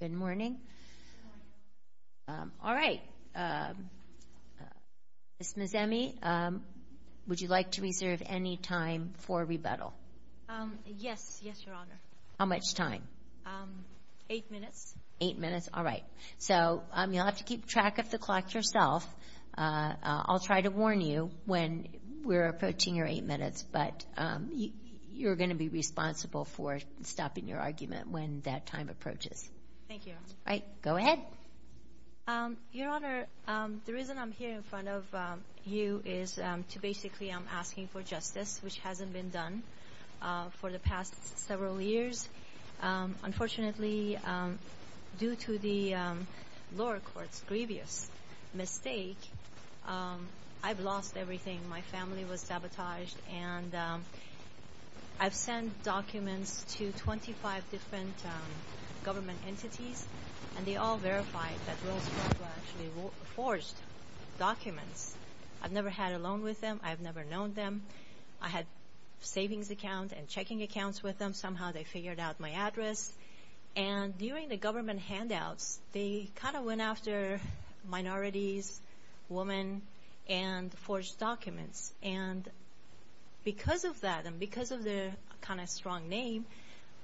Good morning, all right, Ms. Nazemi, would you like to reserve any time for rebuttal? Yes, yes, Your Honor. How much time? Eight minutes. Eight minutes, all right. So you'll have to keep track of the clock yourself. I'll try to warn you when we're approaching your eight minutes, but you're going to be responsible for stopping your argument when that time approaches. Thank you, Your Honor. All right, go ahead. Your Honor, the reason I'm here in front of you is to basically I'm asking for justice, which hasn't been done. for the past several years. Unfortunately, due to the lower court's grievous mistake, I've lost everything. My family was sabotaged, and I've sent documents to 25 different government entities, and they all verified that Rolls-Royce were actually forged documents. I've never had a loan with them. I've never known them. I had savings accounts and checking accounts with them. Somehow they figured out my address, and during the government handouts, they kind of went after minorities, women, and forged documents, and because of that and because of their kind of strong name,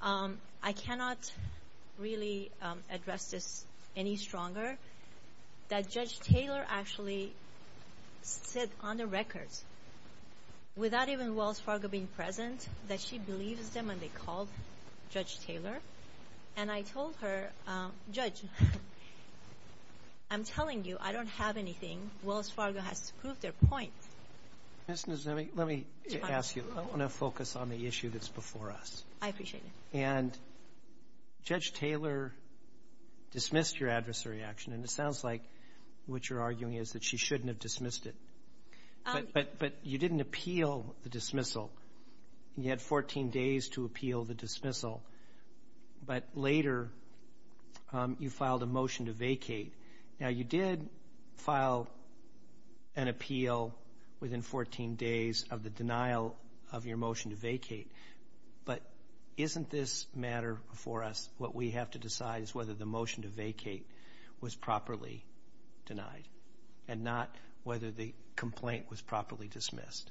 I cannot really address this any stronger that Judge Taylor actually said on the record, without even Wells Fargo being present, that she believes them and they called Judge Taylor. And I told her, Judge, I'm telling you, I don't have anything. Wells Fargo has to prove their point. Ms. Nozemi, let me ask you. I want to focus on the issue that's before us. I appreciate it. And Judge Taylor dismissed your adversary action, and it sounds like what you're arguing is that she shouldn't have dismissed it. But you didn't appeal the dismissal, and you had 14 days to appeal the dismissal. But later, you filed a motion to vacate. Now, you did file an appeal within 14 days of the denial of your motion to vacate, but isn't this matter before us? What we have to decide is whether the motion to vacate was properly denied and not whether the complaint was properly dismissed.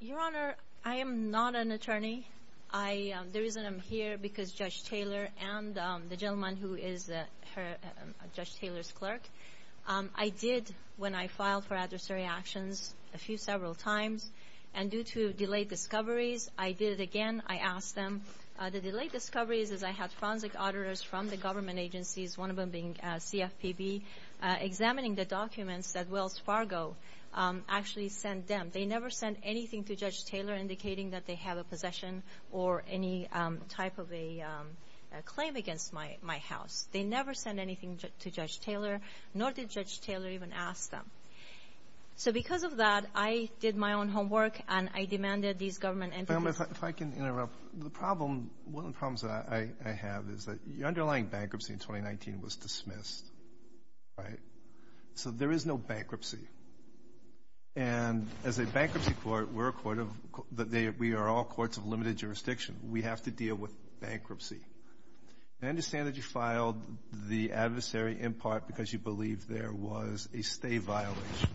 Your Honor, I am not an attorney. The reason I'm here, because Judge Taylor and the gentleman who is Judge Taylor's clerk, I did, when I filed for adversary actions, a few several times, and due to delayed discoveries, I did it again. I asked them. The delayed discoveries is I had forensic auditors from the government agencies, one of them being CFPB, examining the documents that Wells Fargo actually sent them. They never sent anything to Judge Taylor indicating that they have a possession or any type of a claim against my house. They never sent anything to Judge Taylor, nor did Judge Taylor even ask them. So because of that, I did my own homework, and I demanded these government entities If I can interrupt. The problem, one of the problems that I have is that the underlying bankruptcy in 2019 was dismissed, right? So there is no bankruptcy. And as a bankruptcy court, we're a court of — we are all courts of limited jurisdiction. We have to deal with bankruptcy. I understand that you filed the adversary in part because you believe there was a stay violation,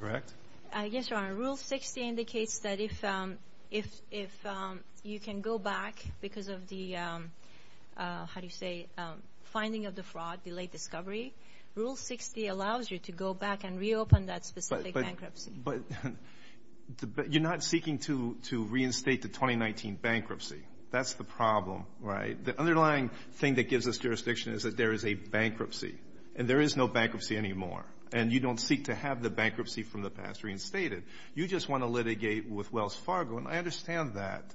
correct? Yes, Your Honor. Rule 60 indicates that if you can go back because of the, how do you say, finding of the fraud, delayed discovery, Rule 60 allows you to go back and reopen that specific bankruptcy. But you're not seeking to reinstate the 2019 bankruptcy. That's the problem, right? The underlying thing that gives us jurisdiction is that there is a bankruptcy, and there is no bankruptcy anymore. And you don't seek to have the bankruptcy from the past reinstated. You just want to litigate with Wells Fargo, and I understand that.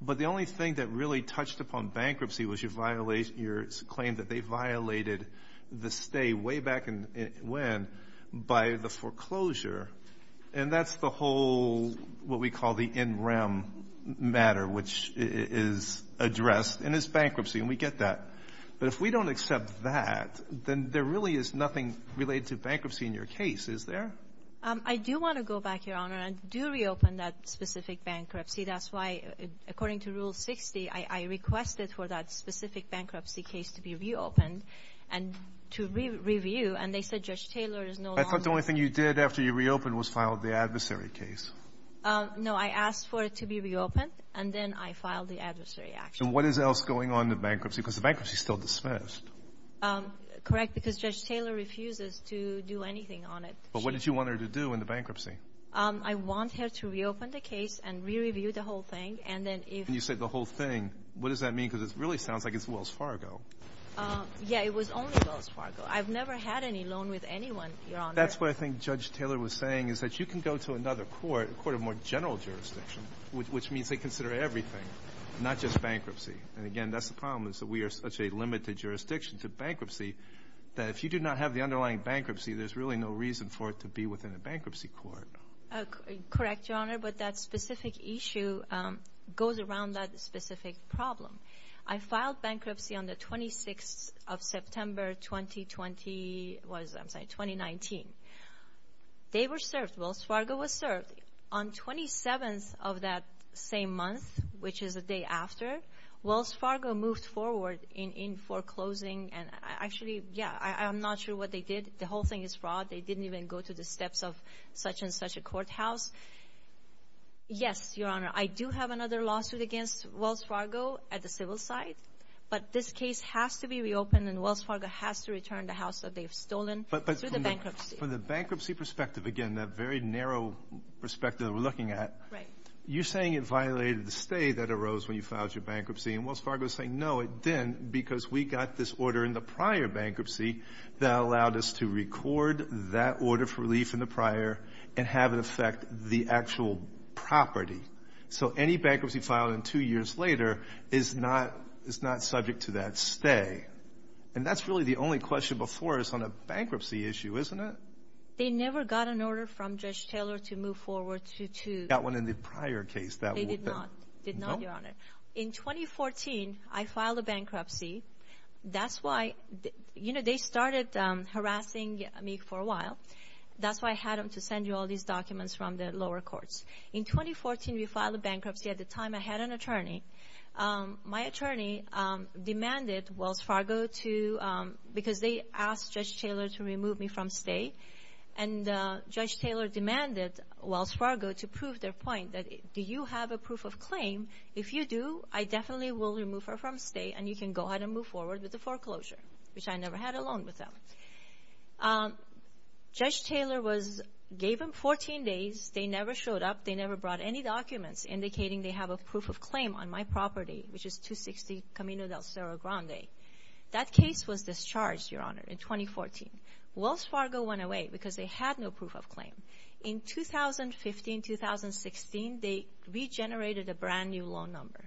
But the only thing that really touched upon bankruptcy was your claim that they violated the stay way back when by the foreclosure. And that's the whole, what we call the NREM matter, which is addressed in this bankruptcy, and we get that. But if we don't accept that, then there really is nothing related to bankruptcy in your case, is there? I do want to go back, Your Honor, and do reopen that specific bankruptcy. That's why, according to Rule 60, I requested for that specific bankruptcy case to be reopened and to review. And they said Judge Taylor is no longer ---- I thought the only thing you did after you reopened was filed the adversary case. No. I asked for it to be reopened, and then I filed the adversary action. And what is else going on in the bankruptcy? Because the bankruptcy is still dismissed. Correct. Because Judge Taylor refuses to do anything on it. But what did you want her to do in the bankruptcy? I want her to reopen the case and re-review the whole thing, and then if ---- And you said the whole thing. What does that mean? Because it really sounds like it's Wells Fargo. Yes. It was only Wells Fargo. I've never had any loan with anyone, Your Honor. That's what I think Judge Taylor was saying, is that you can go to another court, a court of more general jurisdiction, which means they consider everything, not just bankruptcy. And, again, that's the problem, is that we are such a limited jurisdiction to bankruptcy that if you do not have the underlying bankruptcy, there's really no reason for it to be within a bankruptcy court. Correct, Your Honor. But that specific issue goes around that specific problem. I filed bankruptcy on the 26th of September, 2020 was ---- I'm sorry, 2019. They were served. Wells Fargo was served. On 27th of that same month, which is the day after, Wells Fargo moved forward in foreclosing and actually, yeah, I'm not sure what they did. The whole thing is fraud. They didn't even go to the steps of such and such a courthouse. Yes, Your Honor, I do have another lawsuit against Wells Fargo at the civil side, but this case has to be reopened and Wells Fargo has to return the house that they've stolen through the bankruptcy. From the bankruptcy perspective, again, that very narrow perspective that we're looking at, you're saying it violated the stay that arose when you filed your bankruptcy, and Wells Fargo is saying, no, it didn't because we got this order in the prior bankruptcy that allowed us to record that order for relief in the prior and have it affect the actual property. So any bankruptcy filed in two years later is not subject to that stay. And that's really the only question before us on a bankruptcy issue, isn't it? They never got an order from Judge Taylor to move forward to- That one in the prior case that- They did not. Did not, Your Honor. In 2014, I filed a bankruptcy. That's why, you know, they started harassing me for a while. That's why I had them to send you all these documents from the lower courts. In 2014, we filed a bankruptcy. At the time, I had an attorney. My attorney demanded Wells Fargo to, because they asked Judge Taylor to remove me from stay, and Judge Taylor demanded Wells Fargo to prove their point that, do you have a proof of claim? If you do, I definitely will remove her from stay, and you can go ahead and move forward with the foreclosure, which I never had a loan with them. Judge Taylor was, gave them 14 days. They never showed up. They never brought any documents indicating they have a proof of claim on my property, which is 260 Camino del Cerro Grande. That case was discharged, Your Honor, in 2014. Wells Fargo went away because they had no proof of claim. In 2015, 2016, they regenerated a brand new loan number,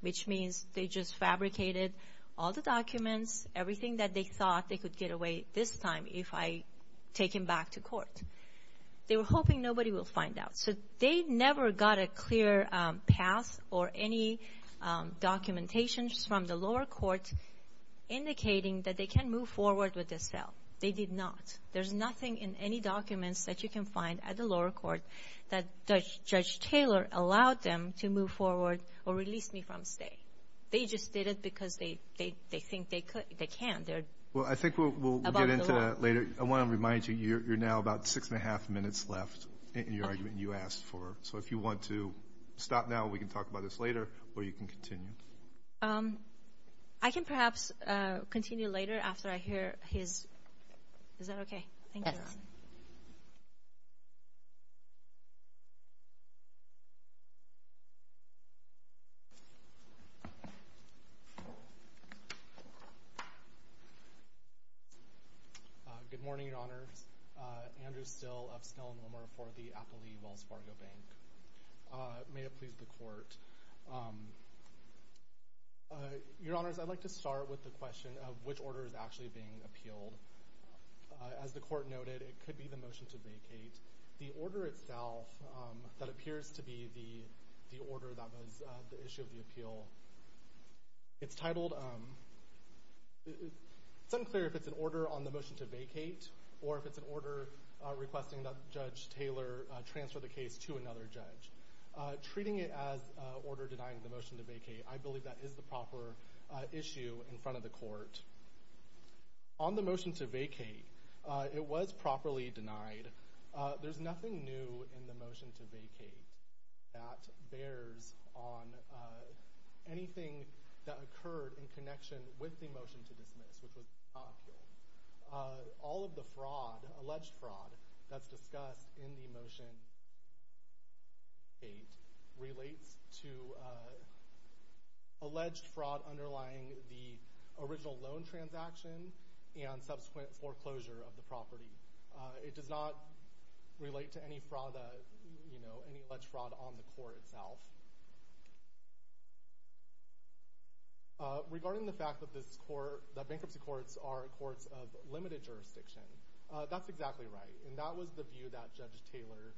which means they just fabricated all the documents, everything that they thought they could get away this time if I take him back to court. They were hoping nobody will find out. So they never got a clear path or any documentations from the lower court indicating that they can move forward with this sale. They did not. There's nothing in any documents that you can find at the lower court that Judge Taylor allowed them to move forward or release me from stay. They just did it because they think they could, they can. Well, I think we'll get into that later. I want to remind you, you're now about six and a half minutes left in your argument So if you want to stop now, we can talk about this later, or you can continue. I can perhaps continue later after I hear his, is that okay? Thank you. Good morning, Your Honor. Andrew Still of Snell and Wilmer for the Applee Wells Fargo Bank. May it please the court. Your Honors, I'd like to start with the question of which order is actually being appealed. As the court noted, it could be the motion to vacate. The order itself, that appears to be the order that was the issue of the appeal. It's titled, it's unclear if it's an order on the motion to vacate, or if it's an order requesting that Judge Taylor transfer the case to another judge. Treating it as order denying the motion to vacate, I believe that is the proper issue in front of the court. On the motion to vacate, it was properly denied. There's nothing new in the motion to vacate that bears on anything that occurred in connection with the motion to dismiss, which was not appealed. All of the fraud, alleged fraud, that's discussed in the motion to vacate relates to alleged fraud underlying the original loan transaction and subsequent foreclosure of the property. It does not relate to any fraud, any alleged fraud on the court itself. Regarding the fact that this court, that bankruptcy courts are courts of limited jurisdiction, that's exactly right. And that was the view that Judge Taylor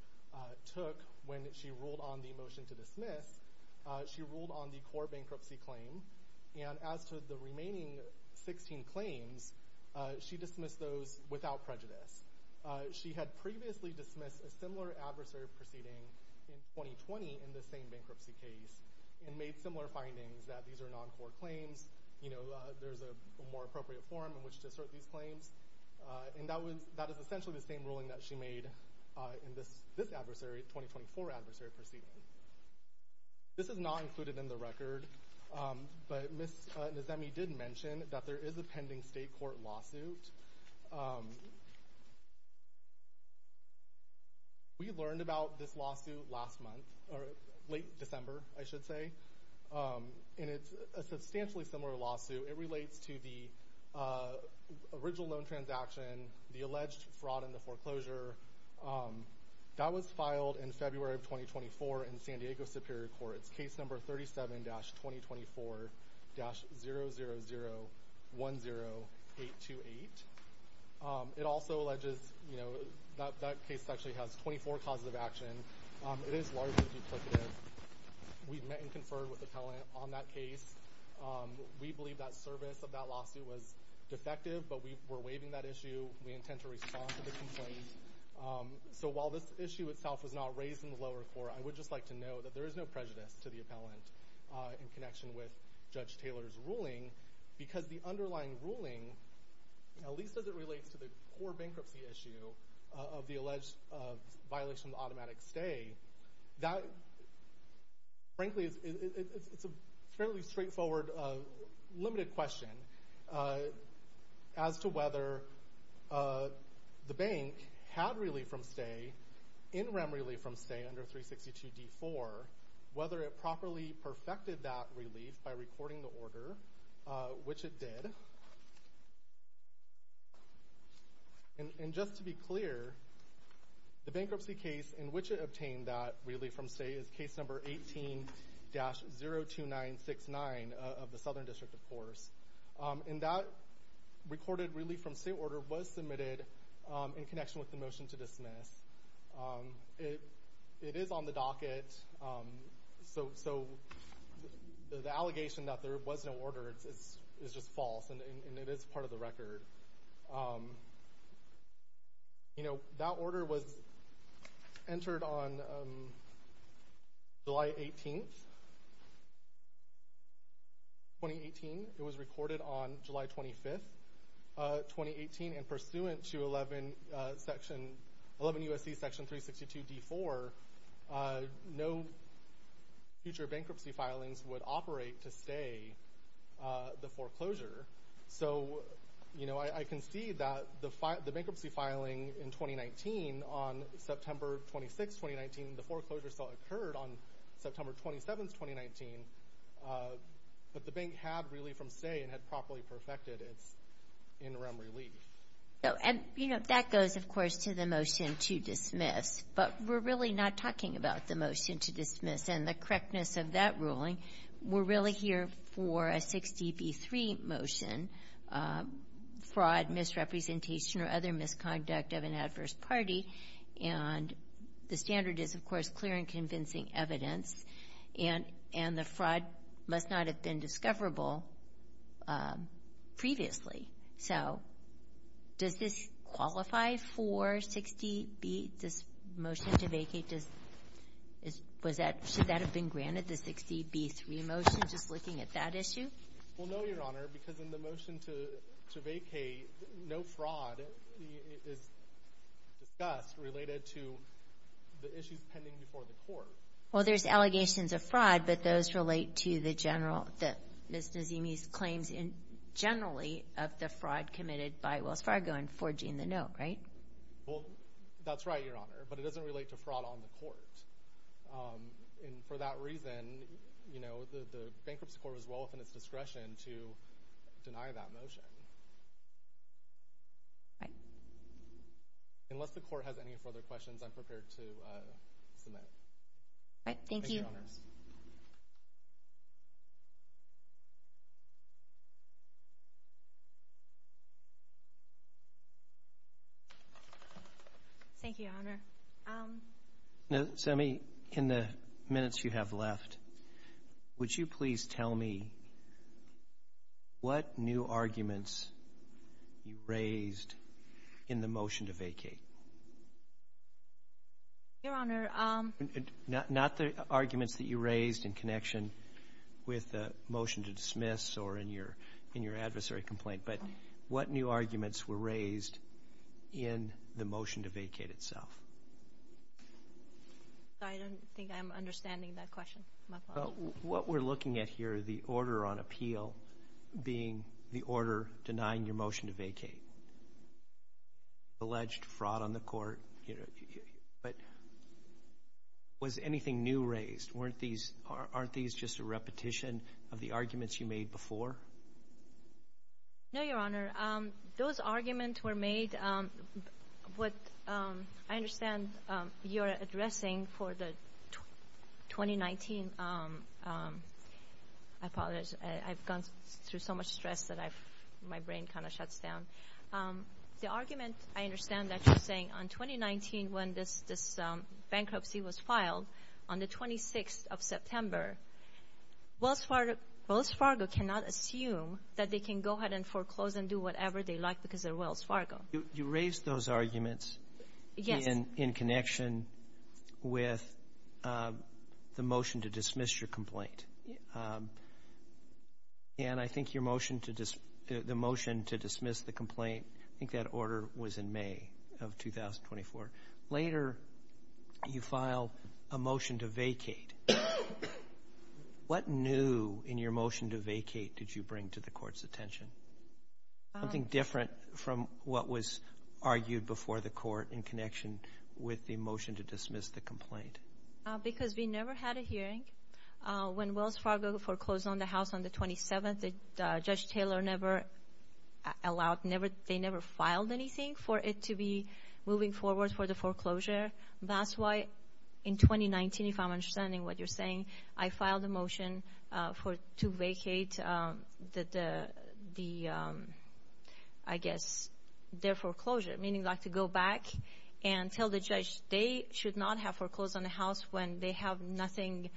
took when she ruled on the motion to dismiss. She ruled on the core bankruptcy claim. And as to the remaining 16 claims, she dismissed those without prejudice. She had previously dismissed a similar adversary proceeding in 2020 in the same bankruptcy case and made similar findings that these are non-core claims. There's a more appropriate form in which to assert these claims. And that is essentially the same ruling that she made in this adversary, 2024 adversary proceeding. This is not included in the record, but Ms. Nizemi did mention that there is a pending state court lawsuit. We learned about this lawsuit last month, or late December, I should say. And it's a substantially similar lawsuit. It relates to the original loan transaction, the alleged fraud in the foreclosure. That was filed in February of 2024 in San Diego Superior Court. It's case number 37-2024-00010828. It also alleges, that case actually has 24 causes of action. It is largely duplicative. We've met and conferred with the appellant on that case. We believe that service of that lawsuit was defective, but we were waiving that issue. We intend to respond to the complaint. So while this issue itself was not raised in the lower court, I would just like to know that there is no prejudice to the appellant in connection with Judge Taylor's ruling. Because the underlying ruling, at least as it relates to the core bankruptcy issue of the alleged violation of automatic stay, that, frankly, it's a fairly straightforward limited question as to whether the bank had relief from stay, in rem relief from stay under 362 D4, whether it properly perfected that relief by recording the order, which it did. And just to be clear, the bankruptcy case in which it obtained that relief from stay is case number 18-02969 of the Southern District, of course. And that recorded relief from stay order was submitted in connection with the motion to dismiss. It is on the docket, so the allegation that there was no order is just false, and it is part of the record. That order was entered on July 18th, 2018, it was recorded on July 25th, 2018, and pursuant to 11 USC section 362 D4, no future bankruptcy filings would operate to stay the foreclosure. So I can see that the bankruptcy filing in 2019, on September 26th, 2019, the foreclosure still occurred on September 27th, 2019. But the bank had relief from stay and had properly perfected its in rem relief. And that goes, of course, to the motion to dismiss. But we're really not talking about the motion to dismiss and the correctness of that ruling. We're really here for a 60 v 3 motion, fraud, misrepresentation, or other misconduct of an adverse party. And the standard is, of course, clear and convincing evidence. And the fraud must not have been discoverable previously. So does this qualify for 60 v, this motion to vacate? Should that have been granted, the 60 v 3 motion, just looking at that issue? Well, no, Your Honor, because in the motion to vacate, no fraud is discussed related to the issues pending before the court. Well, there's allegations of fraud, but those relate to the general, that Ms. Nazemi's claims in generally of the fraud committed by Wells Fargo and forging the note, right? Well, that's right, Your Honor, but it doesn't relate to fraud on the court. And for that reason, the Bankruptcy Court was well within its discretion to deny that motion. Unless the court has any further questions, I'm prepared to submit. All right, thank you. Thank you, Your Honor. Nazemi, in the minutes you have left, would you please tell me what new arguments you raised in the motion to vacate? Your Honor. Not the arguments that you raised in connection with the motion to dismiss or in your adversary complaint, but what new arguments were raised in the motion to vacate itself? Sorry, I don't think I'm understanding that question. What we're looking at here, the order on appeal, being the order denying your motion to vacate. Alleged fraud on the court, but was anything new raised? Weren't these, aren't these just a repetition of the arguments you made before? No, Your Honor. Those arguments were made, what I understand you're addressing for the 2019, I apologize, I've gone through so much stress that my brain kind of shuts down. The argument, I understand that you're saying on 2019 when this bankruptcy was filed, on the 26th of September, Wells Fargo cannot assume that they can go ahead and foreclose and do whatever they like because they're Wells Fargo. You raised those arguments in connection with the motion to dismiss your complaint. And I think your motion to dismiss the complaint, I think that order was in May of 2024. Later, you file a motion to vacate. What new in your motion to vacate did you bring to the court's attention? Something different from what was argued before the court in connection with the motion to dismiss the complaint. Because we never had a hearing when Wells Fargo foreclosed on the house on the 27th. Judge Taylor never allowed, they never filed anything for it to be moving forward for the foreclosure. That's why in 2019, if I'm understanding what you're saying, I filed a motion to vacate the, I guess, their foreclosure, meaning to go back and tell the judge they should not have foreclosed on the house when they have nothing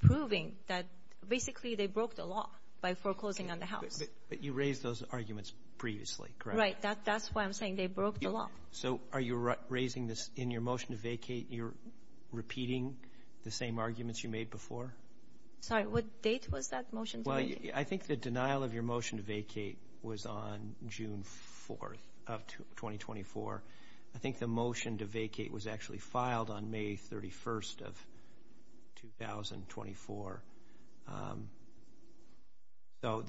proving that basically they broke the law by foreclosing on the house. But you raised those arguments previously, correct? Right, that's why I'm saying they broke the law. So are you raising this in your motion to vacate, you're repeating the same arguments you made before? Sorry, what date was that motion? Well, I think the denial of your motion to vacate was on June 4th of 2024. I think the motion to vacate was actually filed on May 31st of 2024. So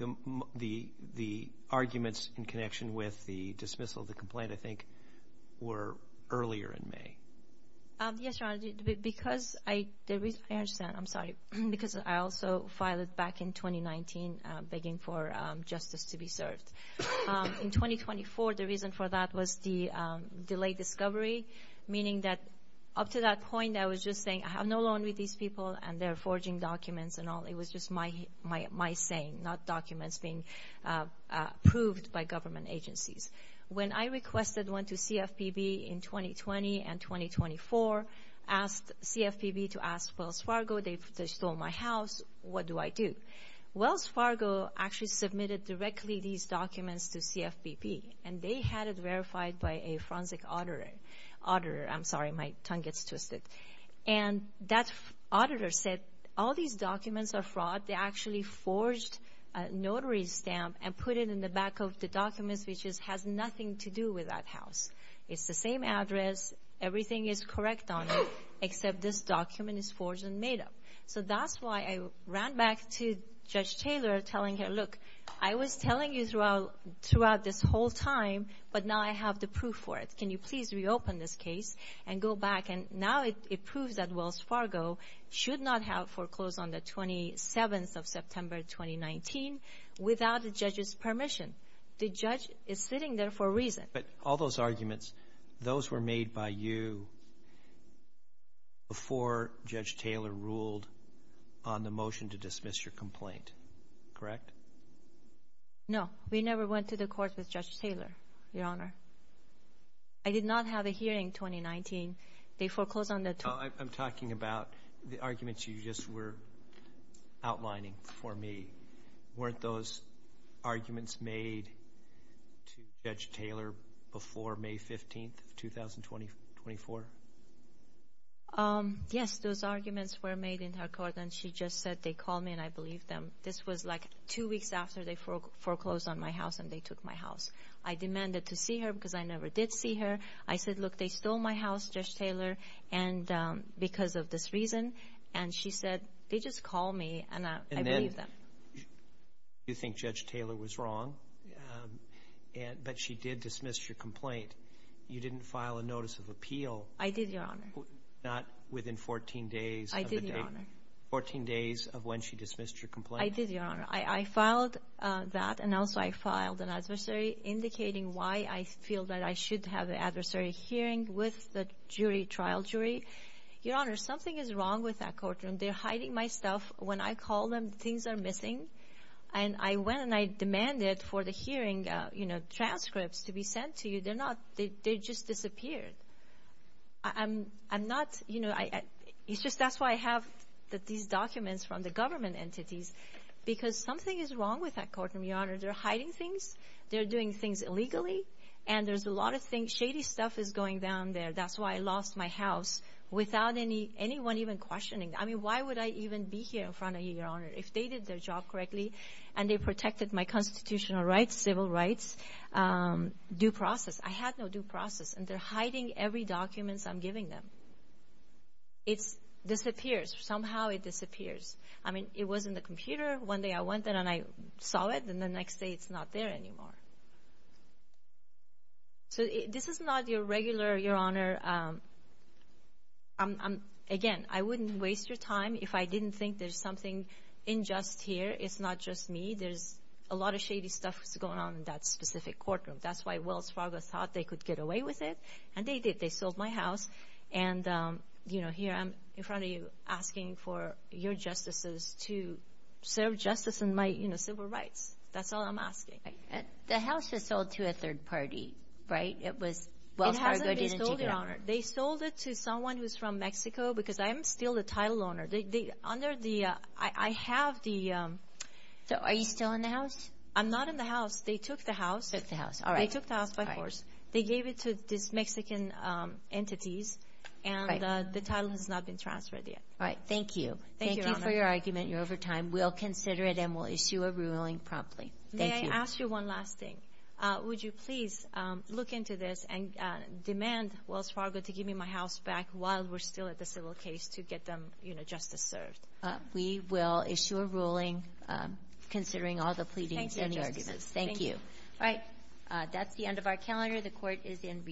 the arguments in connection with the dismissal of the complaint, I think, were earlier in May. Yes, Your Honor, because I, I understand, I'm sorry, because I also filed it back in 2019, begging for justice to be served. In 2024, the reason for that was the delayed discovery, meaning that up to that point, I was just saying, I have no loan with these people, and they're forging documents and all. It was just my saying, not documents being approved by government agencies. When I requested one to CFPB in 2020 and 2024, asked CFPB to ask Wells Fargo, they stole my house, what do I do? Wells Fargo actually submitted directly these documents to CFPB, and they had it verified by a forensic auditor. I'm sorry, my tongue gets twisted. And that auditor said, all these documents are fraud. They actually forged a notary stamp and put it in the back of the documents, which has nothing to do with that house. It's the same address, everything is correct on it, except this document is forged and made up. So that's why I ran back to Judge Taylor, telling him, look, I was telling you throughout this whole time, but now I have the proof for it. Can you please reopen this case and go back? And now it proves that Wells Fargo should not have foreclosed on the 27th of September 2019 without the judge's permission. The judge is sitting there for a reason. But all those arguments, those were made by you before Judge Taylor ruled on the motion to dismiss your complaint, correct? No, we never went to the court with Judge Taylor, Your Honor. I did not have a hearing in 2019. They foreclosed on the- I'm talking about the arguments you just were outlining for me. Weren't those arguments made to Judge Taylor before May 15th of 2024? Yes, those arguments were made in her court, and she just said they called me and I believed them. This was like two weeks after they foreclosed on my house and they took my house. I demanded to see her because I never did see her. I said, look, they stole my house, Judge Taylor, because of this reason. And she said, they just called me and I believed them. You think Judge Taylor was wrong, but she did dismiss your complaint. You didn't file a notice of appeal. I did, Your Honor. Not within 14 days of the date. I did, Your Honor. Fourteen days of when she dismissed your complaint. I did, Your Honor. I filed that, and also I filed an adversary indicating why I feel that I should have an adversary hearing with the jury, trial jury. Your Honor, something is wrong with that courtroom. They're hiding my stuff. When I call them, things are missing. And I went and I demanded for the hearing, you know, transcripts to be sent to you. They're not. They just disappeared. I'm not, you know, it's just that's why I have these documents from the government entities, because something is wrong with that courtroom, Your Honor. They're hiding things. They're doing things illegally. And there's a lot of things, shady stuff is going down there. That's why I lost my house without anyone even questioning. I mean, why would I even be here in front of you, Your Honor, if they did their job correctly and they protected my constitutional rights, civil rights, due process? I had no due process. And they're hiding every documents I'm giving them. It's disappears. Somehow it disappears. I mean, it was in the computer. One day I went there and I saw it, and the next day it's not there anymore. So this is not your regular, Your Honor, I'm, again, I wouldn't waste your time if I didn't think there's something unjust here. It's not just me. There's a lot of shady stuff that's going on in that specific courtroom. That's why Wells Fargo thought they could get away with it, and they did. They sold my house. And, you know, here I'm in front of you asking for your justices to serve justice in my, you know, civil rights. That's all I'm asking. The house was sold to a third party, right? It was Wells Fargo, didn't you, Your Honor? They sold it to someone who's from Mexico, because I'm still the title owner. They, under the, I have the- So are you still in the house? I'm not in the house. They took the house. Took the house, all right. They took the house by force. They gave it to these Mexican entities, and the title has not been transferred yet. All right, thank you. Thank you for your argument. You're over time. We'll consider it, and we'll issue a ruling promptly. Thank you. May I ask you one last thing? Would you please look into this and demand Wells Fargo to give me my house back while we're still at the civil case to get them, you know, justice served? We will issue a ruling considering all the pleadings and the arguments. Thank you. All right, that's the end of our calendar. The court is in recess.